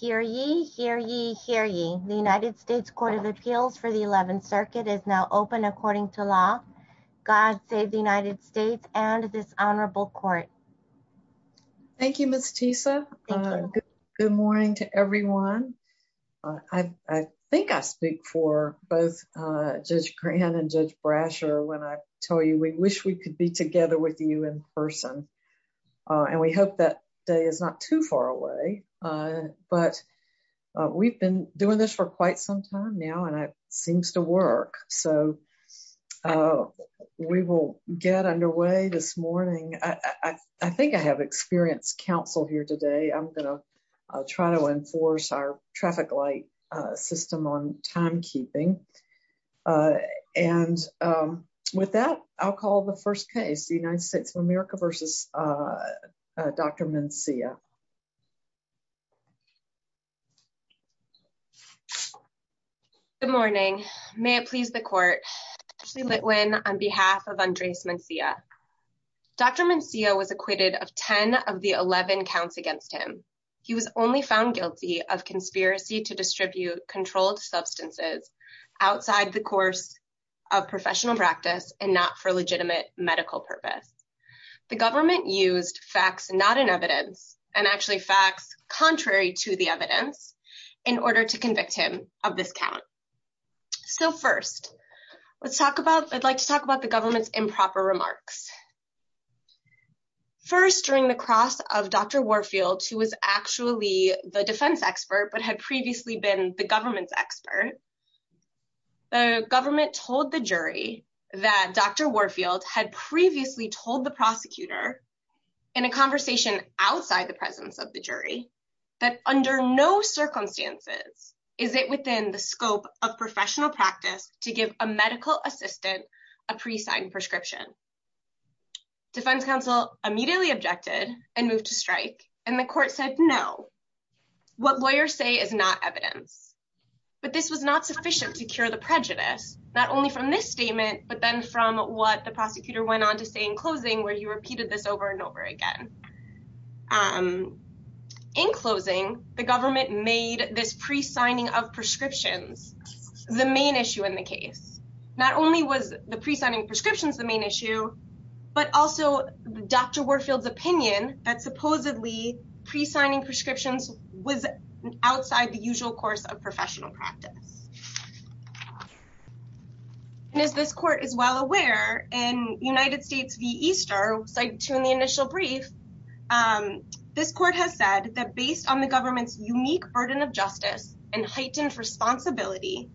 Hear ye, hear ye, hear ye. The United States Court of Appeals for the 11th Circuit is now open according to law. God save the United States and this honorable court. Thank you, Ms. Tisa. Good morning to everyone. I think I speak for both Judge Grant and Judge Brasher when I tell you we wish we could be together with you in person. And we hope that today is not too far away. But we've been doing this for quite some time now, and it seems to work. So we will get underway this morning. I think I have experienced counsel here today. I'm going to try to enforce our traffic light system on timekeeping. And with that, I'll call the first case, the United States of America v. Dr. Mencia. Good morning. May it please the court, on behalf of Andres Mencia. Dr. Mencia was acquitted of 10 of the 11 counts against him. He was only found guilty of conspiracy to distribute controlled substances outside the course of professional practice and not for legitimate medical purpose. The government used facts not in evidence and actually facts contrary to the evidence in order to convict him of this count. So first, let's talk about, I'd like to talk about the government's improper remarks. First, during the cross of Dr. Warfield, who was actually the defense expert but had previously been the government's expert, the government told the jury that Dr. Warfield had previously told the prosecutor in a conversation outside the presence of the jury that under no circumstances is it within the scope of professional practice to give a medical assistant a pre-signed prescription. Defense counsel immediately objected and moved to strike, and the court said no. What lawyers say is not evidence, but this was not sufficient to cure the prejudice, not only from this statement but then from what the prosecutor went on to say in closing where he repeated this over and over again. In closing, the government made this pre-signing of prescriptions the main issue in the case. Not only was the pre-signing prescriptions the main issue, but also Dr. Warfield's opinion that supposedly pre-signing prescriptions was outside the usual course of professional practice. And as this court is well aware, in United States v. Easter, cited too in the initial brief, this court has said that based on the government's unique burden of justice and heightened responsibility,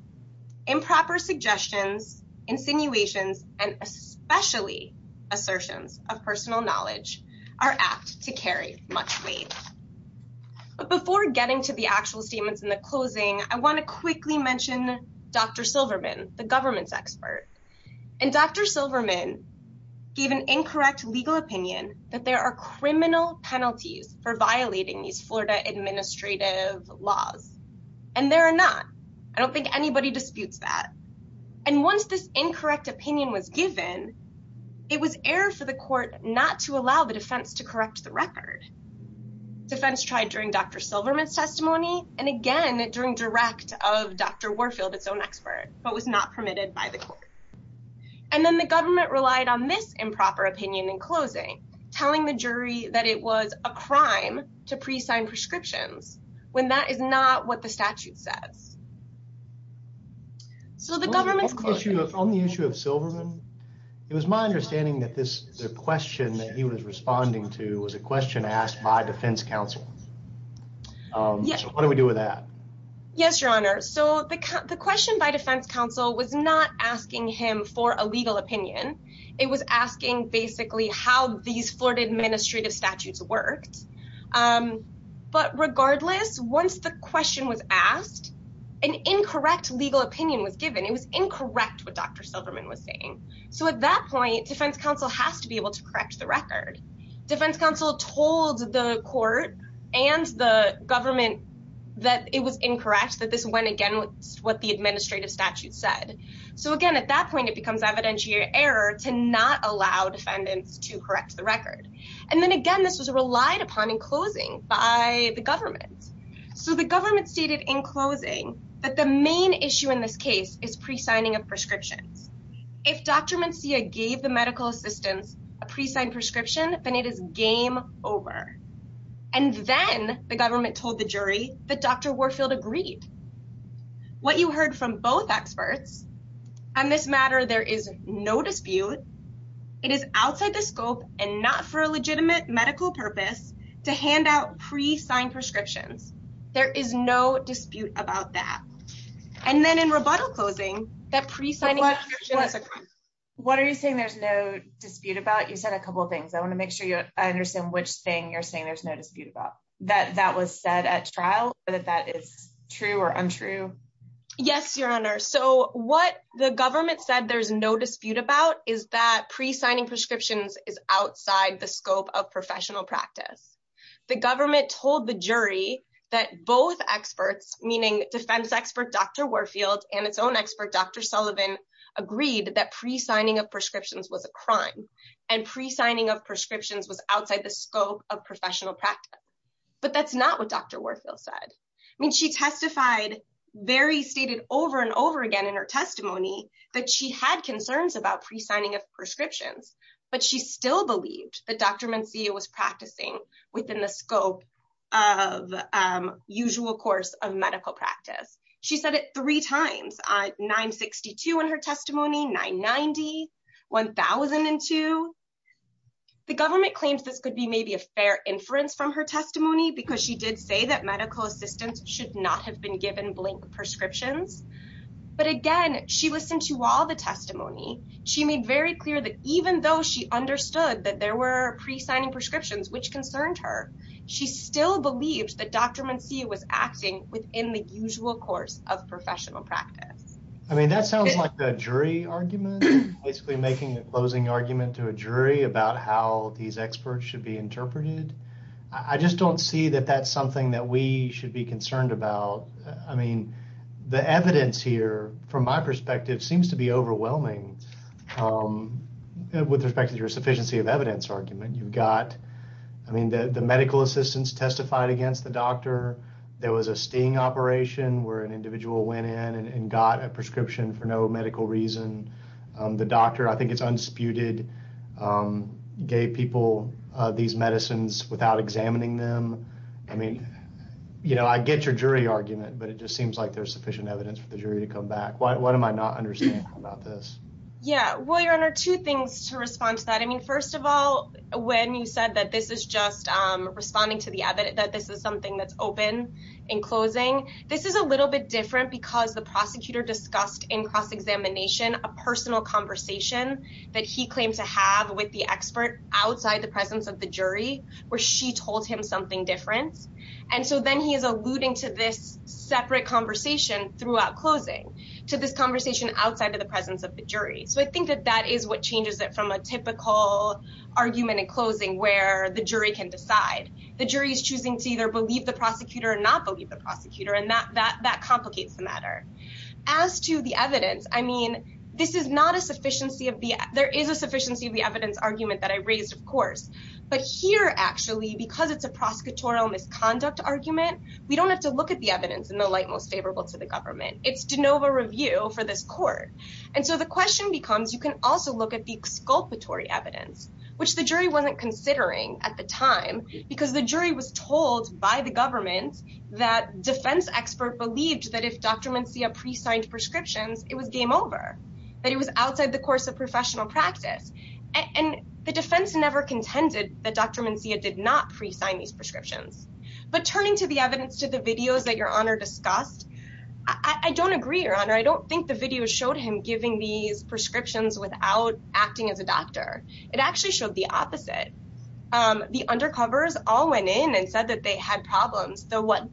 improper suggestions, insinuations, and especially assertions of personal knowledge are apt to carry much weight. But before getting to the actual statements in the closing, I want to quickly mention Dr. Silverman, the government's expert. And Dr. Silverman gave an incorrect legal opinion that there are criminal penalties for violating these Florida administrative laws. And there are not. I don't think anybody disputes that. And once this incorrect opinion was given, it was error for the court not to allow the defense to correct the record. Defense tried during Dr. Silverman's testimony and again during direct of Dr. Warfield, its own expert, but was not permitted by the court. And then the government relied on this improper opinion in closing, telling the jury that it was a crime to pre-sign prescriptions, when that is not what the statute says. So the government's question- On the issue of Silverman, it was my understanding that the question that he was responding to was a question asked by defense counsel. So what do we do with that? Yes, your honor. So the question by defense counsel was not asking him for a legal opinion. It was asking basically how these Florida administrative statutes worked. But regardless, once the question was asked, an incorrect legal opinion was given. It was incorrect what Dr. Silverman was saying. So at that point, defense counsel has to be able to correct the record. Defense counsel told the court and the government that it was incorrect, that this went again with what the administrative statute said. So again, at that point, it becomes evidentiary error to not allow defendants to correct the record. And then again, this was relied upon in closing by the government. So the government stated in closing that the main issue in this case is pre-signing of prescriptions. If Dr. Mencia gave the medical assistants a pre-signed prescription, then it is game over. And then the government told the jury that Dr. Silverman said there is no dispute. It is outside the scope and not for a legitimate medical purpose to hand out pre-signed prescriptions. There is no dispute about that. And then in rebuttal closing, that pre-signing prescription is a crime. What are you saying there's no dispute about? You said a couple of things. I want to make sure I understand which thing you're saying there's no dispute about. That that was said at trial or that that is true or untrue? Yes, your honor. So what the government said there's no dispute about is that pre-signing prescriptions is outside the scope of professional practice. The government told the jury that both experts, meaning defense expert Dr. Warfield and its own expert, Dr. Sullivan, agreed that pre-signing of prescriptions was a crime and pre-signing of prescriptions was outside the scope of professional practice. But that's not what Dr. Warfield said. I mean, she testified very stated over and over again in her testimony that she had concerns about pre-signing of prescriptions, but she still believed that Dr. Mencia was practicing within the scope of usual course of medical practice. She said it three times on 962 in her testimony, 990, 1002. The government claims this could be maybe a fair inference from her testimony because she did say that medical assistants should not have been given blank prescriptions. But again, she listened to all the testimony. She made very clear that even though she understood that there were pre-signing prescriptions, which concerned her, she still believed that Dr. Mencia was acting within the usual course of professional practice. I mean, that sounds like the jury argument, basically making a closing argument to a jury about how these experts should be interpreted. I just don't see that that's something that we should be concerned about. I mean, the evidence here, from my perspective, seems to be overwhelming with respect to your sufficiency of evidence argument. I mean, the medical assistants testified against the doctor. There was a sting operation where an individual went in and got a these medicines without examining them. I mean, I get your jury argument, but it just seems like there's sufficient evidence for the jury to come back. What am I not understanding about this? Yeah. Well, Your Honor, two things to respond to that. I mean, first of all, when you said that this is just responding to the evidence, that this is something that's open in closing, this is a little bit different because the prosecutor discussed in cross-examination, a personal conversation that he claimed to have with the expert outside the presence of the jury, where she told him something different. And so then he is alluding to this separate conversation throughout closing, to this conversation outside of the presence of the jury. So I think that that is what changes it from a typical argument in closing, where the jury can decide. The jury is choosing to either believe the prosecutor or not believe the prosecutor, and that complicates the matter. As to the evidence, I mean, there is a sufficiency of the evidence argument that I raised, of course. But here, actually, because it's a prosecutorial misconduct argument, we don't have to look at the evidence in the light most favorable to the government. It's de novo review for this court. And so the question becomes, you can also look at the exculpatory evidence, which the jury wasn't considering at the time because the jury was told by the government that defense expert believed that if Dr. Mencia pre-signed prescriptions, it was game over, that it was outside the course of professional practice. And the defense never contended that Dr. Mencia did not pre-sign these prescriptions. But turning to the evidence to the videos that Your Honor discussed, I don't agree, Your Honor. I don't think the video showed him giving these prescriptions without acting as a doctor. It actually showed the opposite. The undercovers all went in and said that they had problems. The one,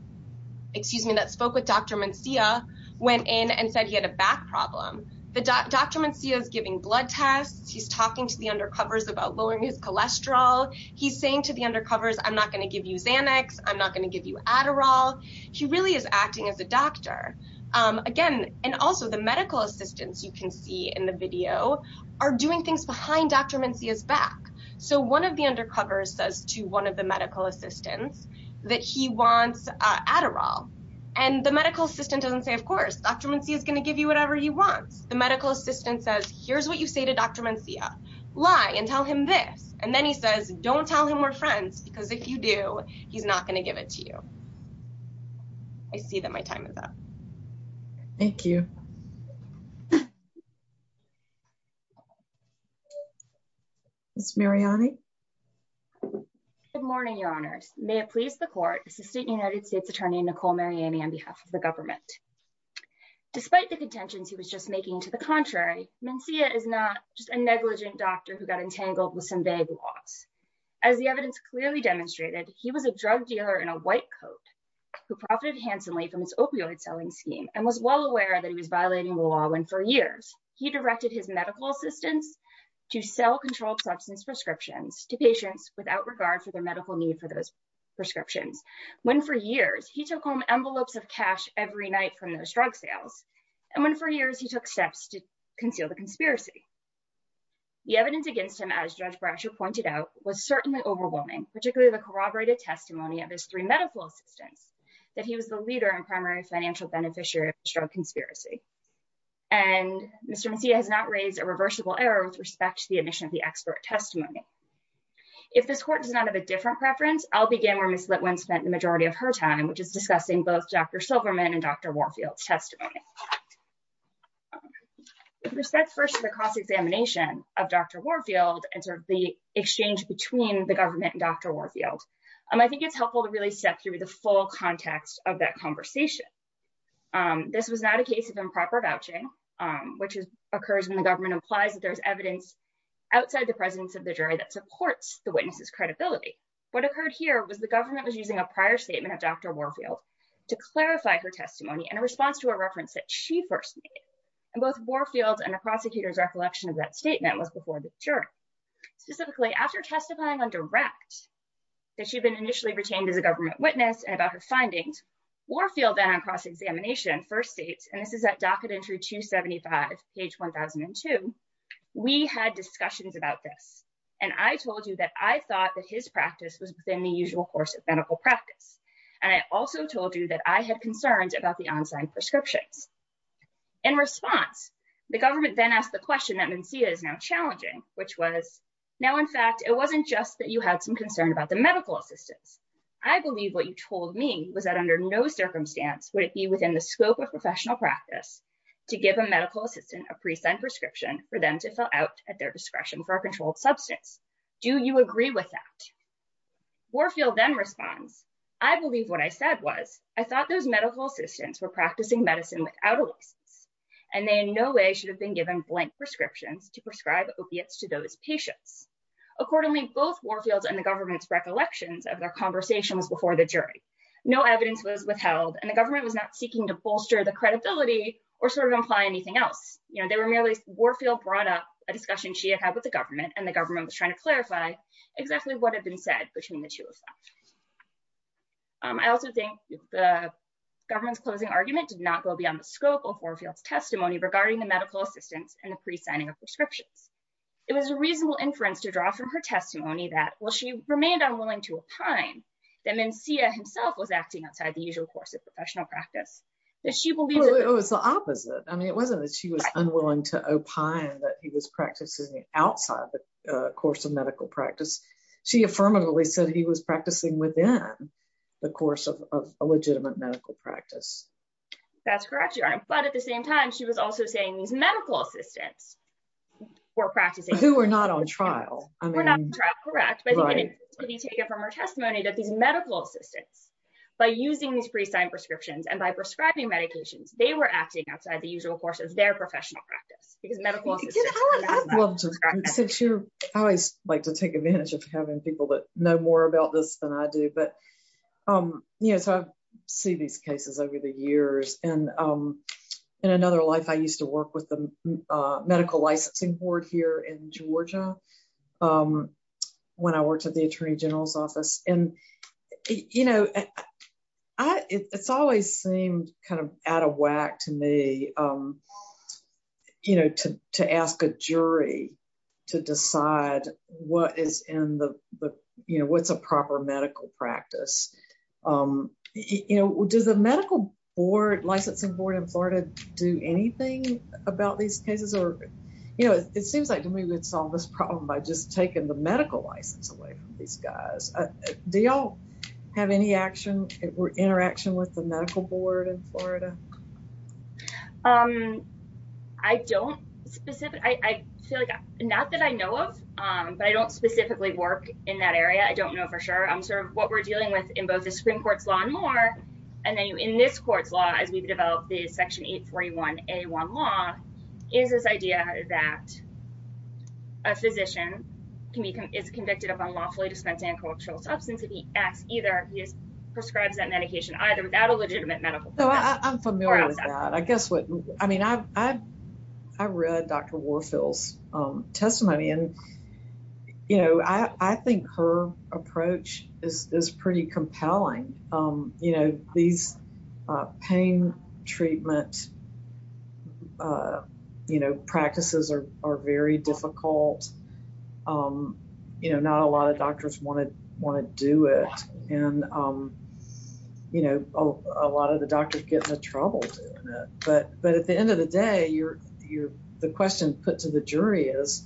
excuse me, that spoke with Dr. Mencia went in and said he had a back problem. Dr. Mencia is giving blood tests. He's talking to the undercovers about lowering his cholesterol. He's saying to the undercovers, I'm not going to give you Xanax. I'm not going to give you Adderall. He really is acting as a doctor. Again, and also the medical assistants you can see in the video are doing things behind Dr. Mencia's back. So one of the undercovers says to one of the medical assistants that he wants Adderall. And the medical assistant doesn't say, of course, Dr. Mencia is going to give you whatever he wants. The medical assistant says, here's what you say to Dr. Mencia, lie and tell him this. And then he says, don't tell him we're friends because if you do, he's not going to give it to you. I see that my time is up. Thank you. Ms. Mariani. Good morning, Your Honors. May it please the court, Assistant United States Attorney Nicole Mariani on behalf of the government. Despite the contentions he was just making to the contrary, Mencia is not just a negligent doctor who got entangled with some vague laws. As the evidence clearly demonstrated, he was a drug dealer in a white coat who profited handsomely from his opioid selling scheme and was well aware that he was violating the law. For years, he directed his medical assistants to sell controlled substance prescriptions to patients without regard for their medical need for those prescriptions. When for years, he took home envelopes of cash every night from those drug sales. And when for years he took steps to conceal the conspiracy. The evidence against him, as Judge Brasher pointed out, was certainly overwhelming, particularly the corroborated testimony of his three medical assistants that he was the leader and primary financial beneficiary of the drug conspiracy. And Mr. Mencia has not raised a reversible error with respect to the admission of the expert testimony. If this court does not have a different preference, I'll begin where Ms. Litwin spent the majority of her time, which is discussing both Dr. Silverman and Dr. Warfield's testimony. With respect first to the cross-examination of Dr. Warfield and sort of the exchange between the government and Dr. Warfield, I think it's helpful to really step through the context of that conversation. This was not a case of improper vouching, which occurs when the government implies that there's evidence outside the presence of the jury that supports the witness's credibility. What occurred here was the government was using a prior statement of Dr. Warfield to clarify her testimony in response to a reference that she first made. And both Warfield's and the prosecutor's recollection of that statement was before the jury. Specifically, after testifying on direct that she'd been initially retained as a government witness about her findings, Warfield then on cross-examination first states, and this is at docket entry 275, page 1002, we had discussions about this. And I told you that I thought that his practice was within the usual course of medical practice. And I also told you that I had concerns about the on-site prescriptions. In response, the government then asked the question that Mencia is now challenging, which was, now, in fact, it wasn't just that you had some concern about the medical assistance. I believe what you told me was that under no circumstance would it be within the scope of professional practice to give a medical assistant a pre-signed prescription for them to fill out at their discretion for a controlled substance. Do you agree with that? Warfield then responds, I believe what I said was, I thought those medical assistants were practicing medicine without a license. And they in no way should have been given blank prescriptions to prescribe opiates to those patients. Accordingly, both Warfield's and the government's recollections of their conversations before the jury, no evidence was withheld and the government was not seeking to bolster the credibility or sort of imply anything else. You know, they were merely, Warfield brought up a discussion she had had with the government and the government was trying to clarify exactly what had been said between the two of them. I also think the government's closing argument did not go beyond the scope of Warfield's testimony regarding the medical assistants and the pre-signing of prescriptions. It was a reasonable inference to draw from her testimony that while she remained unwilling to opine that Mencia himself was acting outside the usual course of professional practice, that she believed- Oh, it's the opposite. I mean, it wasn't that she was unwilling to opine that he was practicing outside the course of medical practice. She affirmatively said he was practicing within the course of a legitimate medical practice. That's correct, Your Honor. But at the same time, she was also saying these medical assistants were practicing- Who were not on trial. I mean- Were not on trial, correct, but it could be taken from her testimony that these medical assistants, by using these pre-signed prescriptions and by prescribing medications, they were acting outside the usual course of their professional practice because medical assistants- I would love to- Since you're- I always like to take advantage of having people that know more about this than I do. I've seen these cases over the years. In another life, I used to work with the medical licensing board here in Georgia when I worked at the attorney general's office. It's always seemed out of whack to me to ask a jury to decide what's a proper medical practice. Does the medical board, licensing board in Florida, do anything about these cases? It seems like we would solve this problem by just taking the medical license away from these guys. Do you all have any interaction with the medical board in Florida? I don't specifically work in that area. I don't know for sure. What we're dealing with in both the Supreme Court's law and more, and then in this court's law, as we've developed the section 841A1 law, is this idea that a physician is convicted of unlawfully dispensing a cultural substance. If he acts either, he prescribes that medication either without a legitimate medical- I'm familiar with that. I read Dr. Warfield's testimony. I think her approach is pretty compelling. These pain treatment practices are very difficult. Not a lot of doctors want to do it. A lot of the doctors get into trouble doing it. At the end of the day, the question put to the jury is,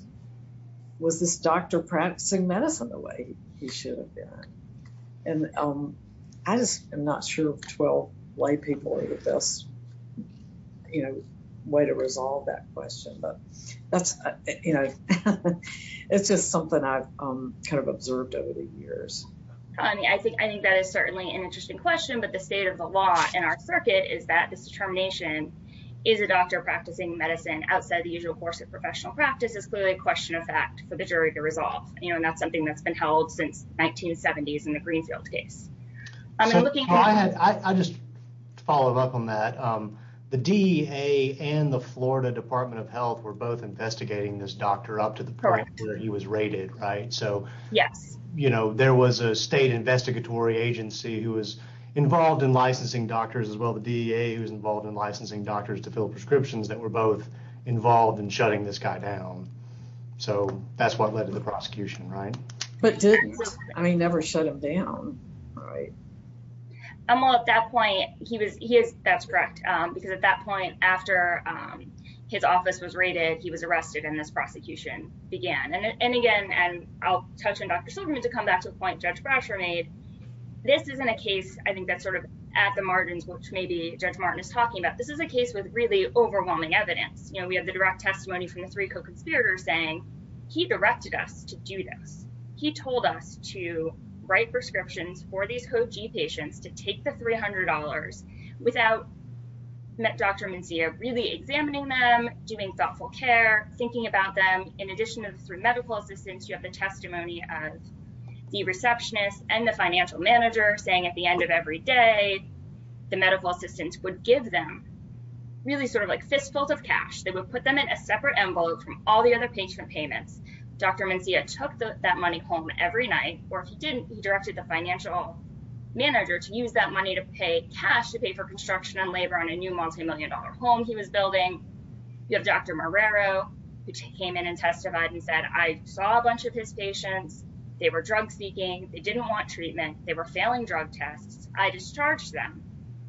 was this doctor practicing medicine the way he should have been? I just am not sure if 12 white people are the best way to resolve that question. That's just something I've observed over the years. I think that is certainly an interesting question, but the state of the law in our circuit is that this determination, is a doctor practicing medicine outside the usual course of professional practice, is clearly a question of fact for the jury to resolve. That's something that's been held since 1970s in the Greenfield case. I'll just follow up on that. The DEA and the Florida Department of Health were both investigating this doctor up to the point where he was raided. There was a state investigatory agency who was involved in licensing doctors as well. The DEA was involved in licensing doctors to fill prescriptions that were both involved in shutting this guy down. That's what led to the prosecution. I never shut him down. Right. At that point, that's correct, because at that point after his office was raided, he was arrested and this prosecution began. Again, I'll touch on Dr. Silverman to come back to the point Judge Brasher made. This isn't a case, I think that's sort of at the margins, which maybe Judge Martin is talking about. This is a case with really overwhelming evidence. We have the direct testimony from the three co-conspirators saying, he directed us to do this. He told us to write prescriptions for these CoG patients to take the $300 without Dr. Mencia really examining them, doing thoughtful care, thinking about them. In addition to through medical assistance, you have the testimony of the receptionist and the financial manager saying at the end of every day, the medical assistance would give them really sort of like fistfuls of cash. They would put them in a separate envelope from all the other patient payments. Dr. Mencia took that money home every night, or if he didn't, he directed the financial manager to use that money to pay cash, to pay for construction and labor on a new multimillion dollar home he was building. You have Dr. Marrero, who came in and testified and said, I saw a bunch of his patients. They were drug seeking. They didn't want treatment. They were failing drug tests. I discharged them.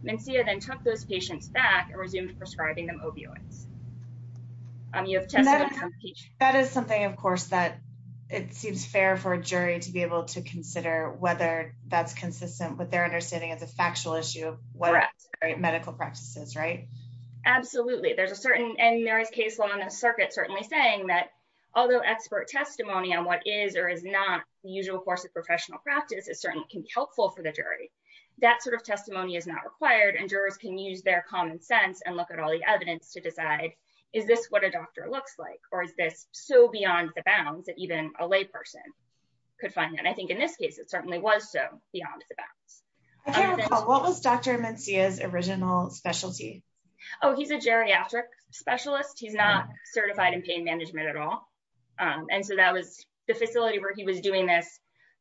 Mencia then took those patients back and resumed prescribing them opioids. That is something, of course, that it seems fair for a jury to be able to consider whether that's consistent with their understanding as a factual issue of what medical practice is, right? Absolutely. There's a certain and there is case law in the circuit certainly saying that although expert testimony on what is or is not the usual course of professional practice is certainly can be helpful for the jury. That sort of testimony is not required and jurors can use their common sense and look at all the evidence to decide, is this what a doctor looks like or is this so beyond the bounds that even a lay person could find that? I think in this case, it certainly was so beyond the bounds. I can't recall. What was Dr. Mencia's original specialty? Oh, he's a geriatric specialist. He's not certified in pain management at all. And so that was the facility where he was doing this,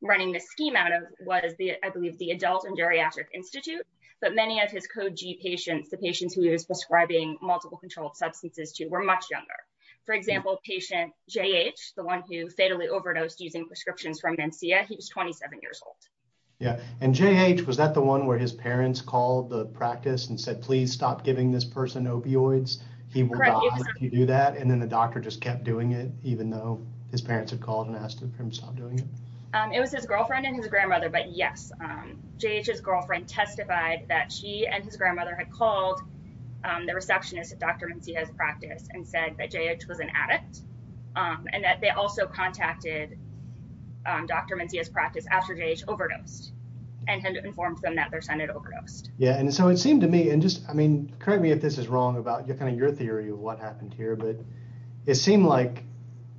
running the scheme out of was the, I believe, the Adult and Geriatric Institute, but many of his Code G patients, the patients who he was prescribing multiple controlled substances to were much younger. For example, patient J.H., the one who fatally overdosed using prescriptions from Mencia, he was 27 years old. Yeah. And J.H., was that the one where his parents called the practice and said, please stop giving this person opioids? He will die if you do that. And then the doctor just kept doing it even though his parents had called and asked him to stop doing it? It was his girlfriend and his grandmother, but yes, J.H.'s girlfriend testified that she and his grandmother had called the receptionist at Dr. Mencia's practice and said that J.H. was an addict and that they also contacted Dr. Mencia's practice after J.H. overdosed and had informed them that their son had overdosed. Yeah. And so it seemed to me, and just, I mean, correct me if this is wrong about kind of your theory of what happened here, but it seemed like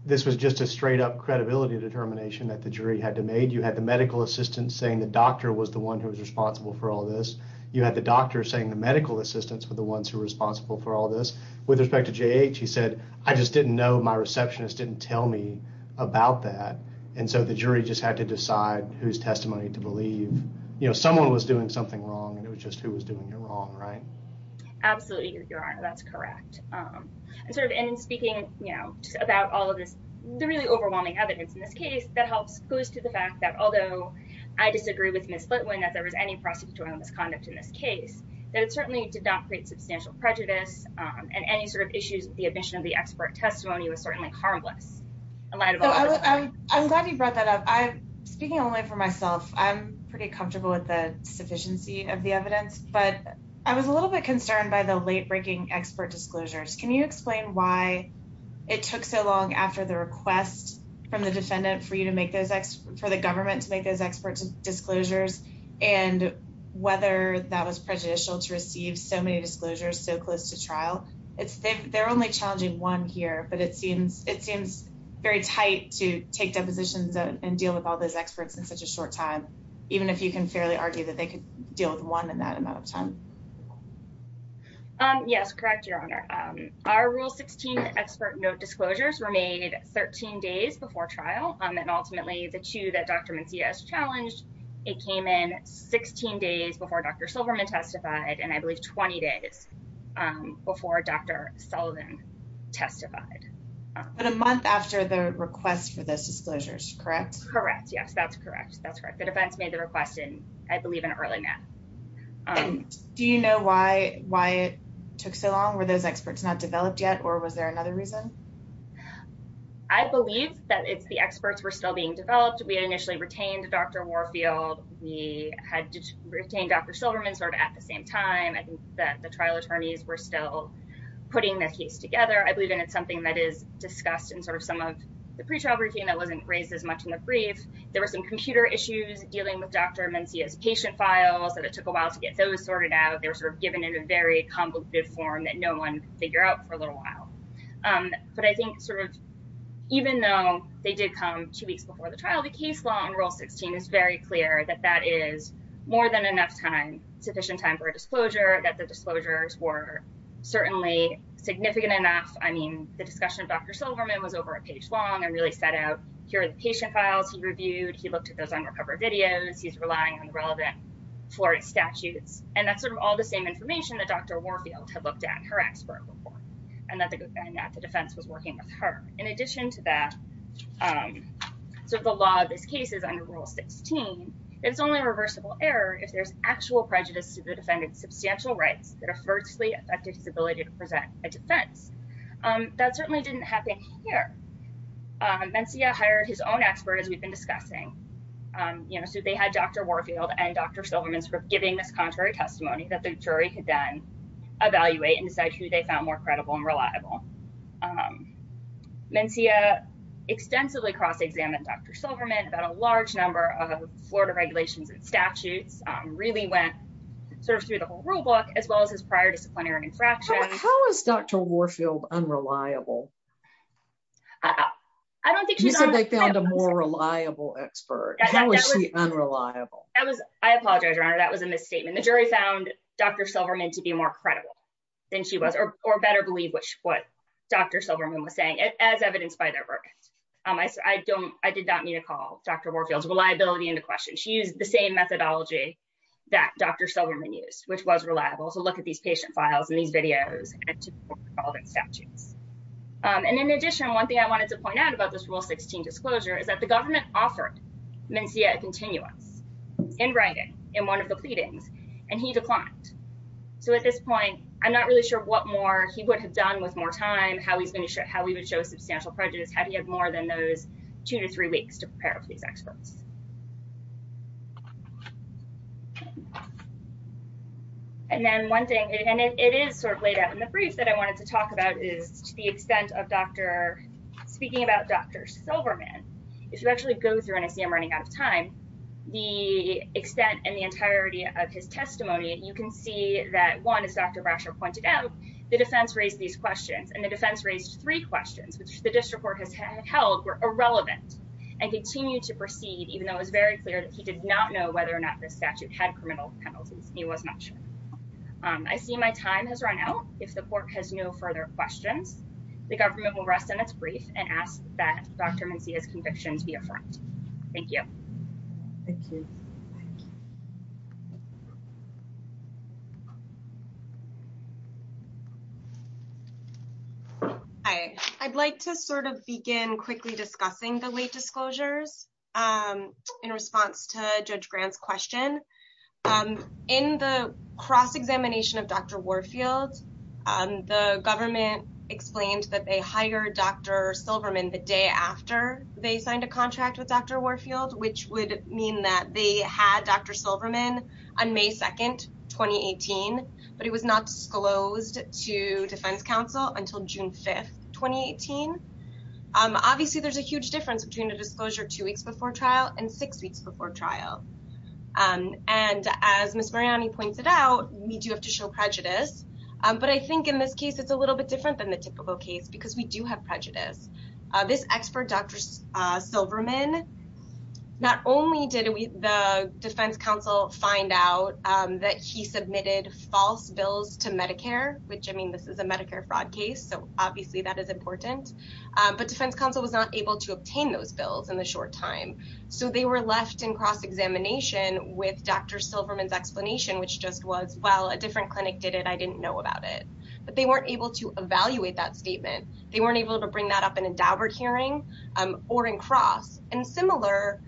this was just a straight up credibility determination that the jury had to make. You had the medical assistant saying the doctor was the one who was responsible for all this. You had the doctor saying the medical assistants were the ones who were responsible for all this. With respect to J.H., he said, I just didn't know, my receptionist didn't tell me about that. And so the jury just had to decide whose testimony to believe. Someone was doing something wrong and it was just who was doing it wrong, right? Absolutely, Your Honor, that's correct. And speaking about all of this, the really overwhelming evidence in this case that helps goes to the fact that although I disagree with Ms. Flitwin that there was any prosecutorial misconduct in this case, that it certainly did not create substantial prejudice and any sort of issues with the admission of the expert testimony was certainly harmless. I'm glad you brought that up. Speaking only for myself, I'm pretty comfortable with the sufficiency of the evidence, but I was a little bit concerned by the late breaking expert disclosures. Can you explain why it took so long after the request from the defendant for the government to make those expert disclosures and whether that was prejudicial to receive so many disclosures so close to trial? They're only challenging one here, but it seems very tight to take depositions and deal with all those experts in such a short time, even if you can fairly argue that they could deal with one in that amount of time. Yes, correct, Your Honor. Our Rule 16 expert note disclosures were made 13 days before trial and ultimately the two that Dr. Mencia has challenged, it came in 16 days before Dr. Silverman testified and I believe 20 days before Dr. Sullivan testified. But a month after the request for the defense made the request in, I believe, an early map. Do you know why it took so long? Were those experts not developed yet or was there another reason? I believe that it's the experts were still being developed. We had initially retained Dr. Warfield. We had retained Dr. Silverman sort of at the same time. I think that the trial attorneys were still putting the case together. I believe it's something that is discussed in sort of some of the pretrial that wasn't raised as much in the brief. There were some computer issues dealing with Dr. Mencia's patient files that it took a while to get those sorted out. They were sort of given in a very convoluted form that no one figured out for a little while. But I think sort of even though they did come two weeks before the trial, the case law in Rule 16 is very clear that that is more than enough time, sufficient time for a disclosure, that the disclosures were certainly significant enough. I mean, the discussion of Dr. Silverman was over a page long and really set out here are the patient files he reviewed. He looked at those unrecovered videos. He's relying on the relevant Florida statutes. And that's sort of all the same information that Dr. Warfield had looked at, her expert report, and that the defense was working with her. In addition to that, so the law of this case is under Rule 16, it's only a reversible error if there's actual prejudice to the defendant's substantial rights that adversely affected his ability to present a defense. That certainly didn't happen here. Mencia hired his own expert, as we've been discussing. So they had Dr. Warfield and Dr. Silverman sort of giving this contrary testimony that the jury could then evaluate and decide who they found more credible and reliable. Mencia extensively cross-examined Dr. Silverman about a large number of Florida regulations and statutes, really went sort of through the whole rulebook, as well as prior disciplinary infractions. How is Dr. Warfield unreliable? You said they found a more reliable expert. How is she unreliable? I apologize, Your Honor, that was a misstatement. The jury found Dr. Silverman to be more credible than she was, or better believe what Dr. Silverman was saying, as evidenced by their work. I did not mean to call Dr. Warfield's reliability into question. She used the same methodology that Dr. Silverman used, which was reliable. So look at these patient files and these videos and to all the statutes. And in addition, one thing I wanted to point out about this Rule 16 disclosure is that the government offered Mencia a continuance in writing, in one of the pleadings, and he declined. So at this point, I'm not really sure what more he would have done with more time, how he's going to show, how he would show substantial prejudice, had he had more than those two to three weeks to prepare for these experts. And then one thing, and it is sort of laid out in the brief that I wanted to talk about, is to the extent of Dr. speaking about Dr. Silverman, if you actually go through and I see I'm running out of time, the extent and the entirety of his testimony, you can see that one, as Dr. Brasher pointed out, the defense raised these questions and the defense raised three questions, which the district court has held were irrelevant and continue to proceed in the same way. Even though it was very clear that he did not know whether or not the statute had criminal penalties, he was not sure. I see my time has run out. If the court has no further questions, the government will rest on its brief and ask that Dr. Mencia's convictions be affirmed. Thank you. Thank you. Hi, I'd like to sort of begin quickly discussing the late disclosures. In response to Judge Grant's question, in the cross-examination of Dr. Warfield, the government explained that they hired Dr. Silverman the day after they signed a contract with Dr. Warfield, which would mean that they had Dr. Silverman on May 2nd, 2018, but he was not disclosed to defense counsel until June 5th, 2018. Obviously, there's a huge difference between a disclosure two weeks before trial and six weeks before trial. And as Ms. Mariani pointed out, we do have to show prejudice, but I think in this case, it's a little bit different than the typical case because we do have prejudice. This expert, Dr. Silverman, not only did the defense counsel find out that he submitted false bills to Medicare, which, I mean, this is a Medicare fraud case, so obviously that is important, but defense counsel was not able to obtain those bills in the short time. So they were left in cross-examination with Dr. Silverman's explanation, which just was, well, a different clinic did it, I didn't know about it. But they weren't able to evaluate that statement. They weren't able to bring that up in a Daubert hearing or in cross. And similarly,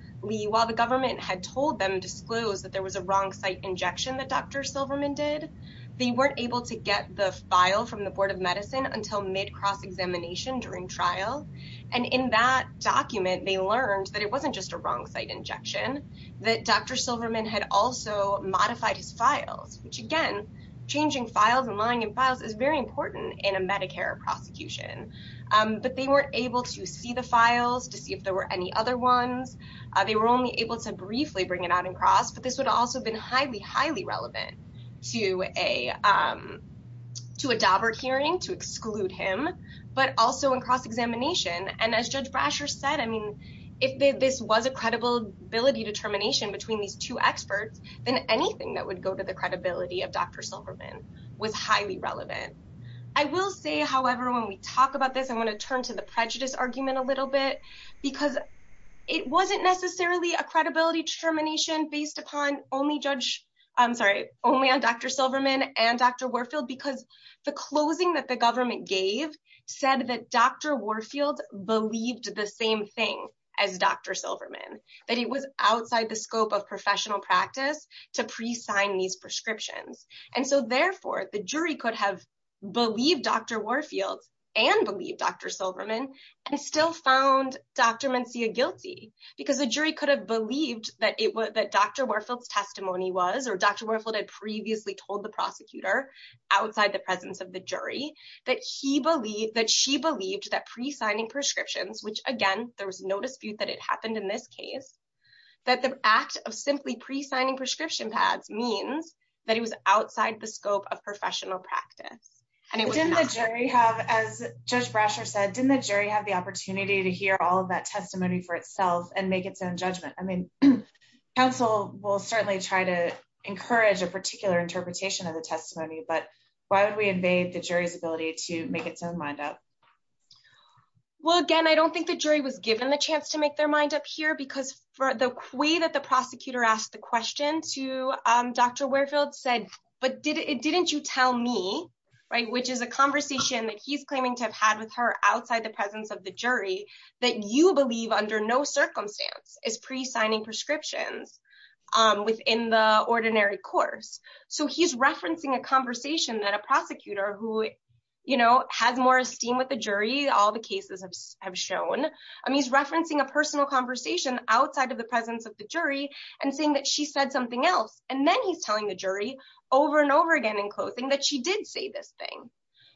while the government had told them to disclose that there was a wrong site injection that Dr. Silverman did, they weren't able to get the file from the Board of Medicine until mid-cross examination during trial. And in that document, they learned that it wasn't just a wrong site injection, that Dr. Silverman had also modified his files, which again, changing files and lying in files is very important in a Medicare prosecution. But they weren't able to see the files to see if there were any other ones. They were only able to briefly bring it out in cross, but this would also have been highly, highly relevant to a Daubert hearing to exclude him, but also in cross-examination. And as Judge Brasher said, I mean, if this was a credibility determination between these two experts, then anything that would go to the credibility of Dr. Silverman was highly relevant. I will say, however, when we talk about this, I want to turn to the prejudice argument a little bit, because it wasn't necessarily a credibility determination based upon only Judge, I'm sorry, only on Dr. Silverman and Dr. Warfield, because the closing that the government gave said that Dr. Warfield believed the same thing as Dr. Silverman, that it was outside the scope of professional practice to pre-sign these prescriptions. And so therefore, the jury could have believed Dr. Warfield and believed Dr. Silverman and still found Dr. Mencia guilty, because the jury could have believed that Dr. Warfield's testimony was, or Dr. Warfield had previously told the prosecutor outside the presence of the jury, that she believed that pre-signing prescriptions, which again, there was no dispute that it happened in this case, that the act of simply pre-signing prescription pads means that it was outside the scope of professional practice. And it was not. But didn't the jury have, as Judge Brasher said, didn't the jury have the opportunity to hear all of that testimony for itself and make its own judgment? I mean, counsel will certainly try to encourage a particular interpretation of the testimony, but why would we invade the jury's ability to make its own mind up? Well, again, I don't think the jury was given the chance to make their mind up here, because for the way that the prosecutor asked the question to Dr. Warfield said, but didn't you tell me, right, which is a conversation that he's claiming to have had with her outside the presence of the jury, that you believe under no circumstance is pre-signing prescriptions within the ordinary course. So he's referencing a conversation that a prosecutor who, you know, has more esteem with the jury, all the cases have shown, I mean, he's referencing a personal conversation outside of the presence of the jury, and saying that she said something else. And then he's telling the jury over and over again in closing that she did say this thing.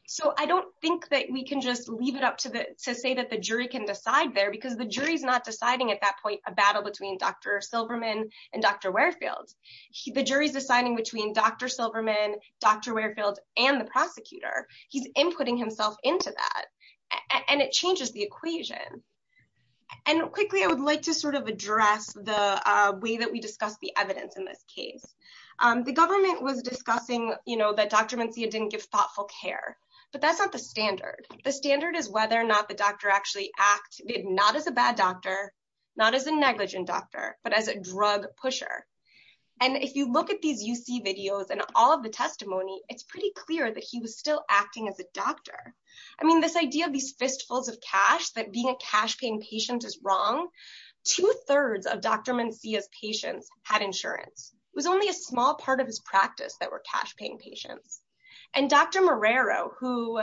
So I don't think that we can just leave it up to say that the jury can decide there, because the jury's not deciding at that point a battle between Dr. Silverman and Dr. Warfield. The jury's deciding between Dr. Silverman, Dr. Warfield, and the prosecutor. He's inputting himself into that, and it changes the equation. And quickly, I would like to sort of address the way that we discuss the evidence in this case. The government was discussing, you know, that Dr. Mencia didn't give thoughtful care, but that's not the standard. The standard is whether or not the doctor actually acted, not as a bad doctor, not as a negligent doctor, but as a drug pusher. And if you look at these UC videos and all of the testimony, it's pretty clear that he was still acting as a doctor. I mean, this idea of these fistfuls of cash, that being a cash-paying patient is wrong, two-thirds of Dr. Mencia's patients had insurance. It was only a small part of his practice that were cash-paying patients. And Dr. Marrero, who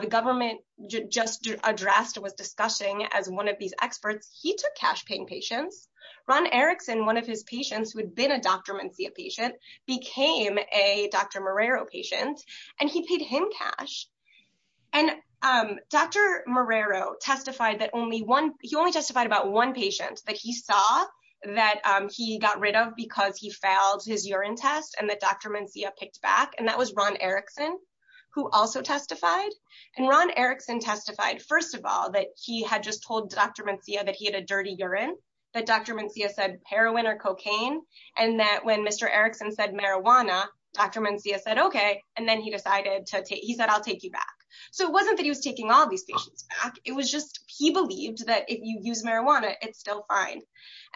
the government just addressed, was discussing as one of these experts, he took cash-paying patients. Ron Erickson, one of his patients, who had been a Dr. Mencia patient, became a Dr. Marrero patient, and he paid him cash. And Dr. Marrero testified that only one, he only testified about one patient that he saw that he got rid of because he failed his urine test and that Dr. Mencia picked back, and that was Ron Erickson, who also testified. And Ron Erickson testified, first of all, that he had just told Dr. Mencia that he had a dirty urine, that Dr. Mencia said heroin or cocaine, and that when Mr. Erickson said marijuana, Dr. Mencia said, okay, and then he decided to take, he said, I'll take you back. So it wasn't that he was taking all these patients back. It was just, he believed that if you use marijuana, it's still fine.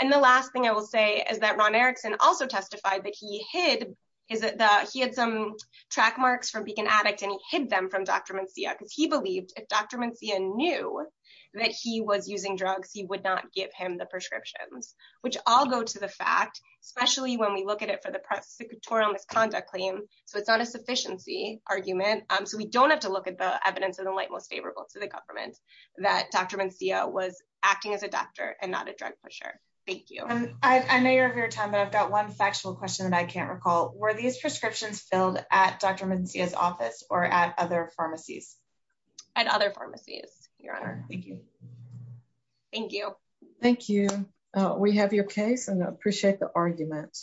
And the last thing I will say is that Ron Erickson also testified that he hid, he had some track marks from being an addict and he hid them from Dr. Mencia because he believed if Dr. Mencia knew that he was using drugs, he would not give him the prescriptions, which all go to the fact, especially when we look at it for the we don't have to look at the evidence of the light, most favorable to the government that Dr. Mencia was acting as a doctor and not a drug pusher. Thank you. And I know you're of your time, but I've got one factual question that I can't recall. Were these prescriptions filled at Dr. Mencia's office or at other pharmacies? At other pharmacies, your honor. Thank you. Thank you. Thank you. We have your case and I appreciate the argument.